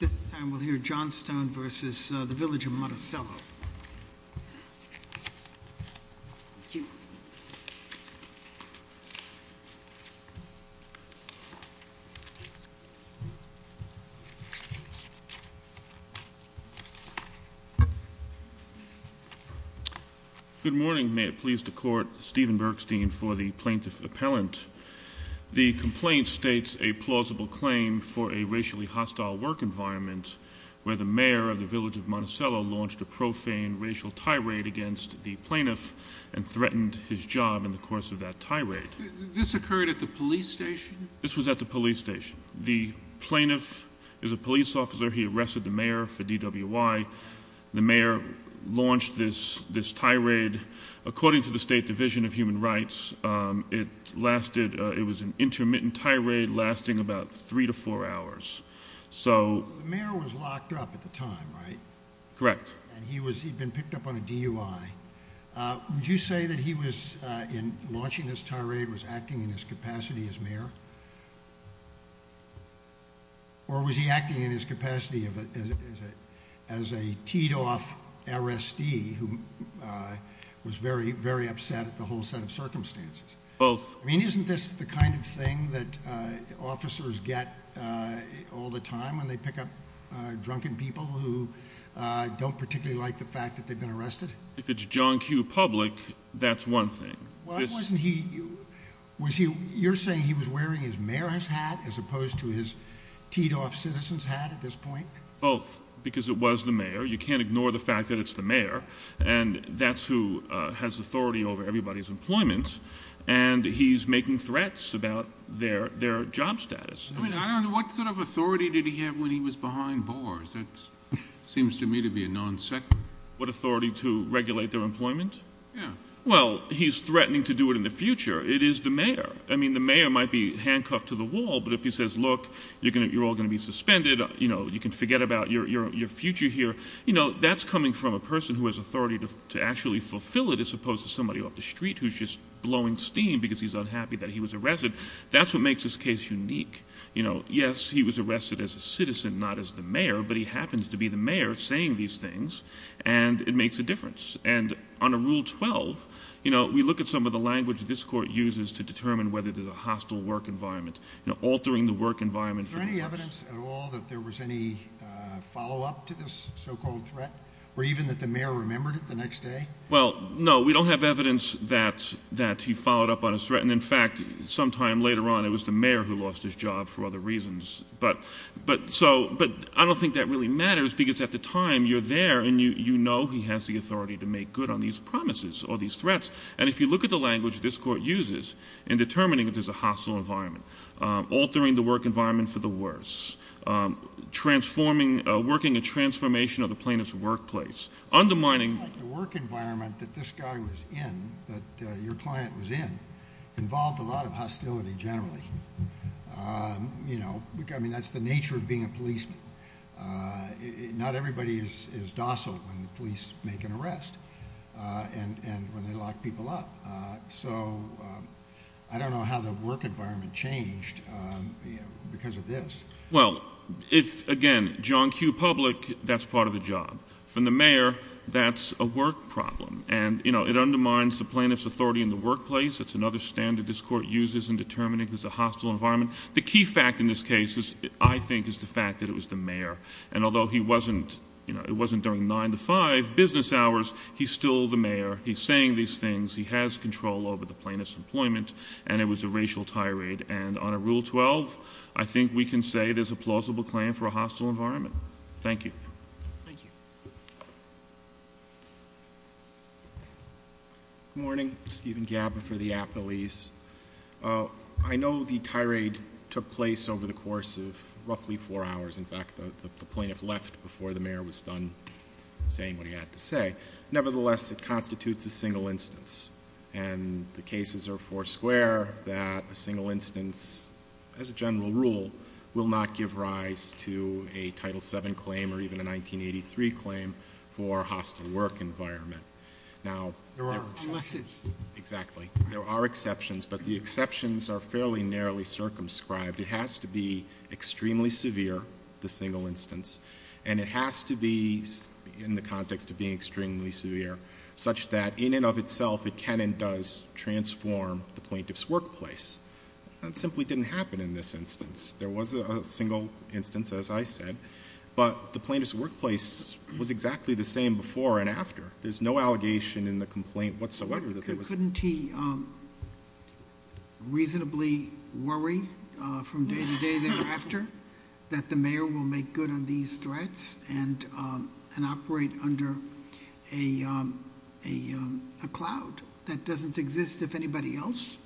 This time we'll hear Johnstone v. The Village of Monticello. Good morning. May it please the Court, Stephen Bergstein for the Plaintiff Appellant. The complaint states a plausible claim for a racially hostile work environment where the mayor of the Village of Monticello launched a profane racial tirade against the plaintiff and threatened his job in the course of that tirade. This occurred at the police station? This was at the police station. The plaintiff is a police officer. He arrested the mayor for DWI. The mayor launched this tirade. According to the State Division of Human Rights, it was an intermittent tirade lasting about three to four hours. The mayor was locked up at the time, right? Correct. He'd been picked up on a DUI. Would you say that he was, in launching this tirade, acting in his capacity as mayor? Or was he acting in his capacity as a teed-off RSD who was very, very upset at the whole set of circumstances? Both. I mean, isn't this the kind of thing that officers get all the time when they pick up drunken people who don't particularly like the fact that they've been arrested? If it's John Q. Public, that's one thing. You're saying he was wearing his mayor's hat as opposed to his teed-off citizen's hat at this point? Both, because it was the mayor. You can't ignore the fact that it's the mayor, and that's who has authority over everybody's employment, and he's making threats about their job status. I mean, what sort of authority did he have when he was behind bars? That seems to me to be a non-second. What authority? To regulate their employment? Yeah. Well, he's threatening to do it in the future. It is the mayor. I mean, the mayor might be handcuffed to the wall, but if he says, look, you're all going to be suspended, you can forget about your future here, that's coming from a person who has authority to actually fulfill it as opposed to somebody off the street who's just blowing steam because he's unhappy that he was arrested. That's what makes this case unique. Yes, he was arrested as a citizen, not as the mayor, but he happens to be the mayor saying these things, and it makes a difference. And on a Rule 12, you know, we look at some of the language this court uses to determine whether there's a hostile work environment, altering the work environment. Is there any evidence at all that there was any follow-up to this so-called threat, or even that the mayor remembered it the next day? Well, no, we don't have evidence that he followed up on his threat, and in fact, sometime later on it was the mayor who lost his job for other reasons. But I don't think that really matters because at the time you're there and you know he has the authority to make good on these promises or these threats. And if you look at the language this court uses in determining if there's a hostile environment, altering the work environment for the worse, working a transformation of the plaintiff's workplace, undermining... The work environment that this guy was in, that your client was in, involved a lot of hostility generally. I mean, that's the nature of being a policeman. Not everybody is docile when the police make an arrest and when they lock people up. So I don't know how the work environment changed because of this. Well, again, John Q. Public, that's part of the job. From the mayor, that's a work problem, and it undermines the plaintiff's authority in the workplace. That's another standard this court uses in determining if there's a hostile environment. The key fact in this case, I think, is the fact that it was the mayor. And although it wasn't during nine to five business hours, he's still the mayor. He's saying these things. He has control over the plaintiff's employment, and it was a racial tirade. And on a Rule 12, I think we can say there's a plausible claim for a hostile environment. Thank you. Thank you. Good morning. I'm Stephen Gabber for the Appalese. I know the tirade took place over the course of roughly four hours. In fact, the plaintiff left before the mayor was done saying what he had to say. Nevertheless, it constitutes a single instance, and the cases are foursquare that a single instance, as a general rule, will not give rise to a Title VII claim or even a 1983 claim for a hostile work environment. There are exceptions. Exactly. There are exceptions, but the exceptions are fairly narrowly circumscribed. It has to be extremely severe, the single instance, and it has to be in the context of being extremely severe, such that in and of itself it can and does transform the plaintiff's workplace. That simply didn't happen in this instance. There was a single instance, as I said, but the plaintiff's workplace was exactly the same before and after. Couldn't he reasonably worry from day to day thereafter that the mayor will make good on these threats and operate under a cloud that doesn't exist if anybody else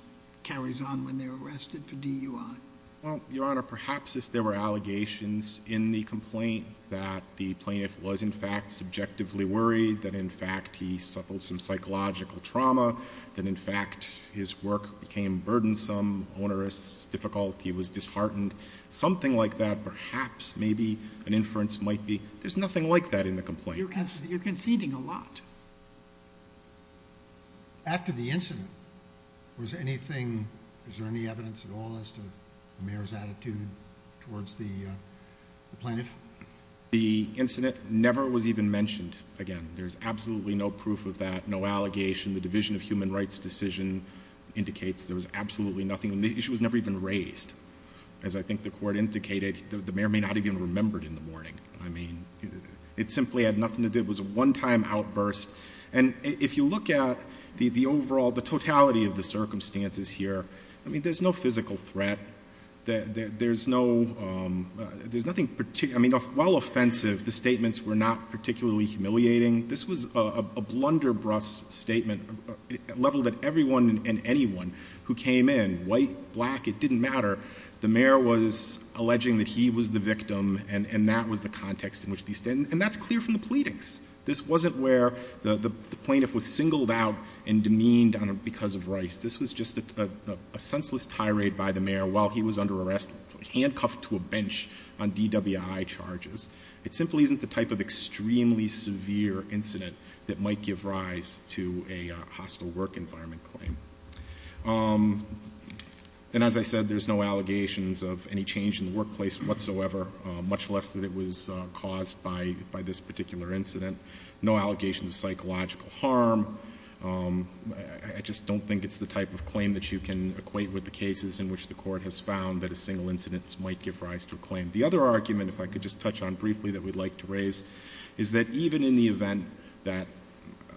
carries on when they're arrested for DUI? Well, Your Honor, perhaps if there were allegations in the complaint that the plaintiff was in fact subjectively worried, that in fact he suffered some psychological trauma, that in fact his work became burdensome, onerous, difficult, he was disheartened, something like that perhaps maybe an inference might be. There's nothing like that in the complaint. You're conceding a lot. After the incident, was there any evidence at all as to the mayor's attitude towards the plaintiff? The incident never was even mentioned again. There's absolutely no proof of that, no allegation. The Division of Human Rights decision indicates there was absolutely nothing. The issue was never even raised. As I think the Court indicated, the mayor may not have even remembered in the morning. I mean, it simply had nothing to do. It was a one-time outburst. And if you look at the overall, the totality of the circumstances here, I mean, there's no physical threat. There's no — there's nothing — I mean, while offensive, the statements were not particularly humiliating. This was a blunderbrust statement leveled at everyone and anyone who came in, white, black, it didn't matter. The mayor was alleging that he was the victim, and that was the context in which these — and that's clear from the pleadings. This wasn't where the plaintiff was singled out and demeaned because of Rice. This was just a senseless tirade by the mayor while he was under arrest, handcuffed to a bench on DWI charges. It simply isn't the type of extremely severe incident that might give rise to a hostile work environment claim. And as I said, there's no allegations of any change in the workplace whatsoever, much less that it was caused by this particular incident. No allegations of psychological harm. I just don't think it's the type of claim that you can equate with the cases in which the court has found that a single incident might give rise to a claim. The other argument, if I could just touch on briefly, that we'd like to raise, is that even in the event that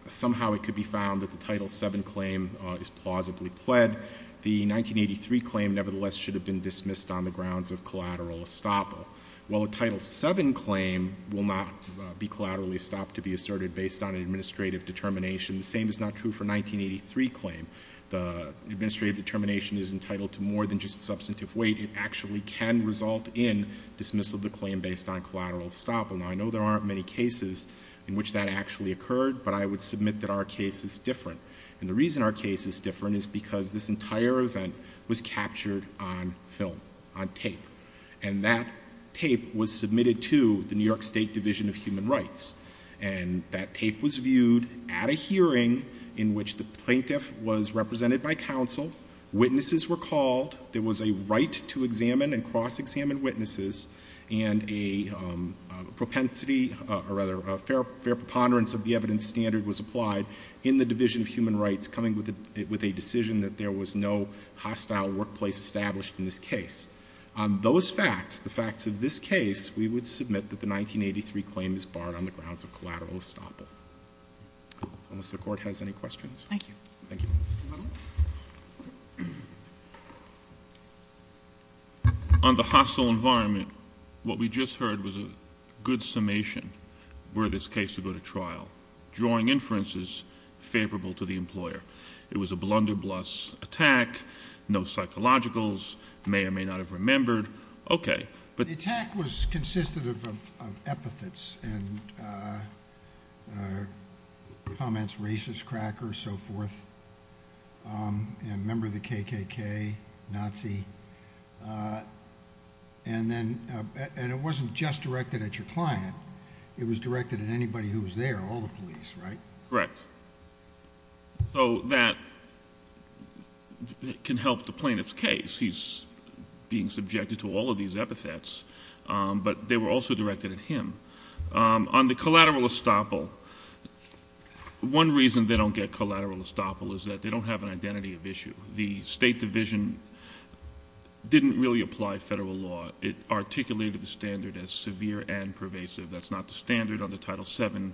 somehow it could be found that the Title VII claim is plausibly pled, the 1983 claim nevertheless should have been dismissed on the grounds of collateral estoppel. While a Title VII claim will not be collaterally estopped to be asserted based on an administrative determination, the same is not true for a 1983 claim. The administrative determination is entitled to more than just substantive weight. It actually can result in dismissal of the claim based on collateral estoppel. Now, I know there aren't many cases in which that actually occurred, but I would submit that our case is different. And the reason our case is different is because this entire event was captured on film, on tape. And that tape was submitted to the New York State Division of Human Rights. And that tape was viewed at a hearing in which the plaintiff was represented by counsel, witnesses were called, there was a right to examine and cross-examine witnesses, and a propensity, or rather a fair preponderance of the evidence standard was applied in the Division of Human Rights coming with a decision that there was no hostile workplace established in this case. On those facts, the facts of this case, we would submit that the 1983 claim is barred on the grounds of collateral estoppel. Unless the Court has any questions. Thank you. Thank you. On the hostile environment, what we just heard was a good summation were this case to go to trial, drawing inferences favorable to the employer. It was a blunderbuss attack, no psychologicals, may or may not have remembered. Okay. The attack was consistent of epithets and comments racist, cracker, so forth, and member of the KKK, Nazi. And it wasn't just directed at your client. It was directed at anybody who was there, all the police, right? Correct. So that can help the plaintiff's case. He's being subjected to all of these epithets, but they were also directed at him. On the collateral estoppel, one reason they don't get collateral estoppel is that they don't have an identity of issue. The State Division didn't really apply federal law. It articulated the standard as severe and pervasive. That's not the standard under Title VII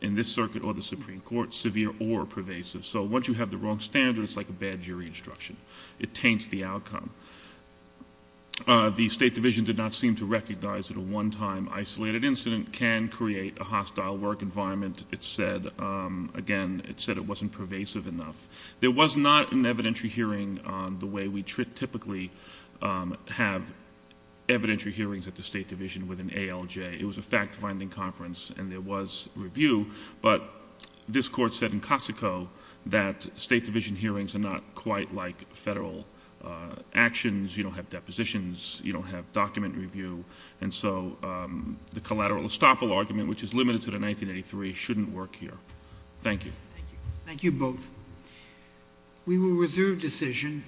in this circuit or the Supreme Court, severe or pervasive. So once you have the wrong standard, it's like a bad jury instruction. It taints the outcome. The State Division did not seem to recognize that a one-time isolated incident can create a hostile work environment. It said, again, it said it wasn't pervasive enough. There was not an evidentiary hearing the way we typically have evidentiary hearings at the State Division with an ALJ. It was a fact-finding conference, and there was review. But this Court said in Cossico that State Division hearings are not quite like federal actions. You don't have depositions. You don't have document review. And so the collateral estoppel argument, which is limited to the 1983, shouldn't work here. Thank you. Thank you both. We will reserve decision.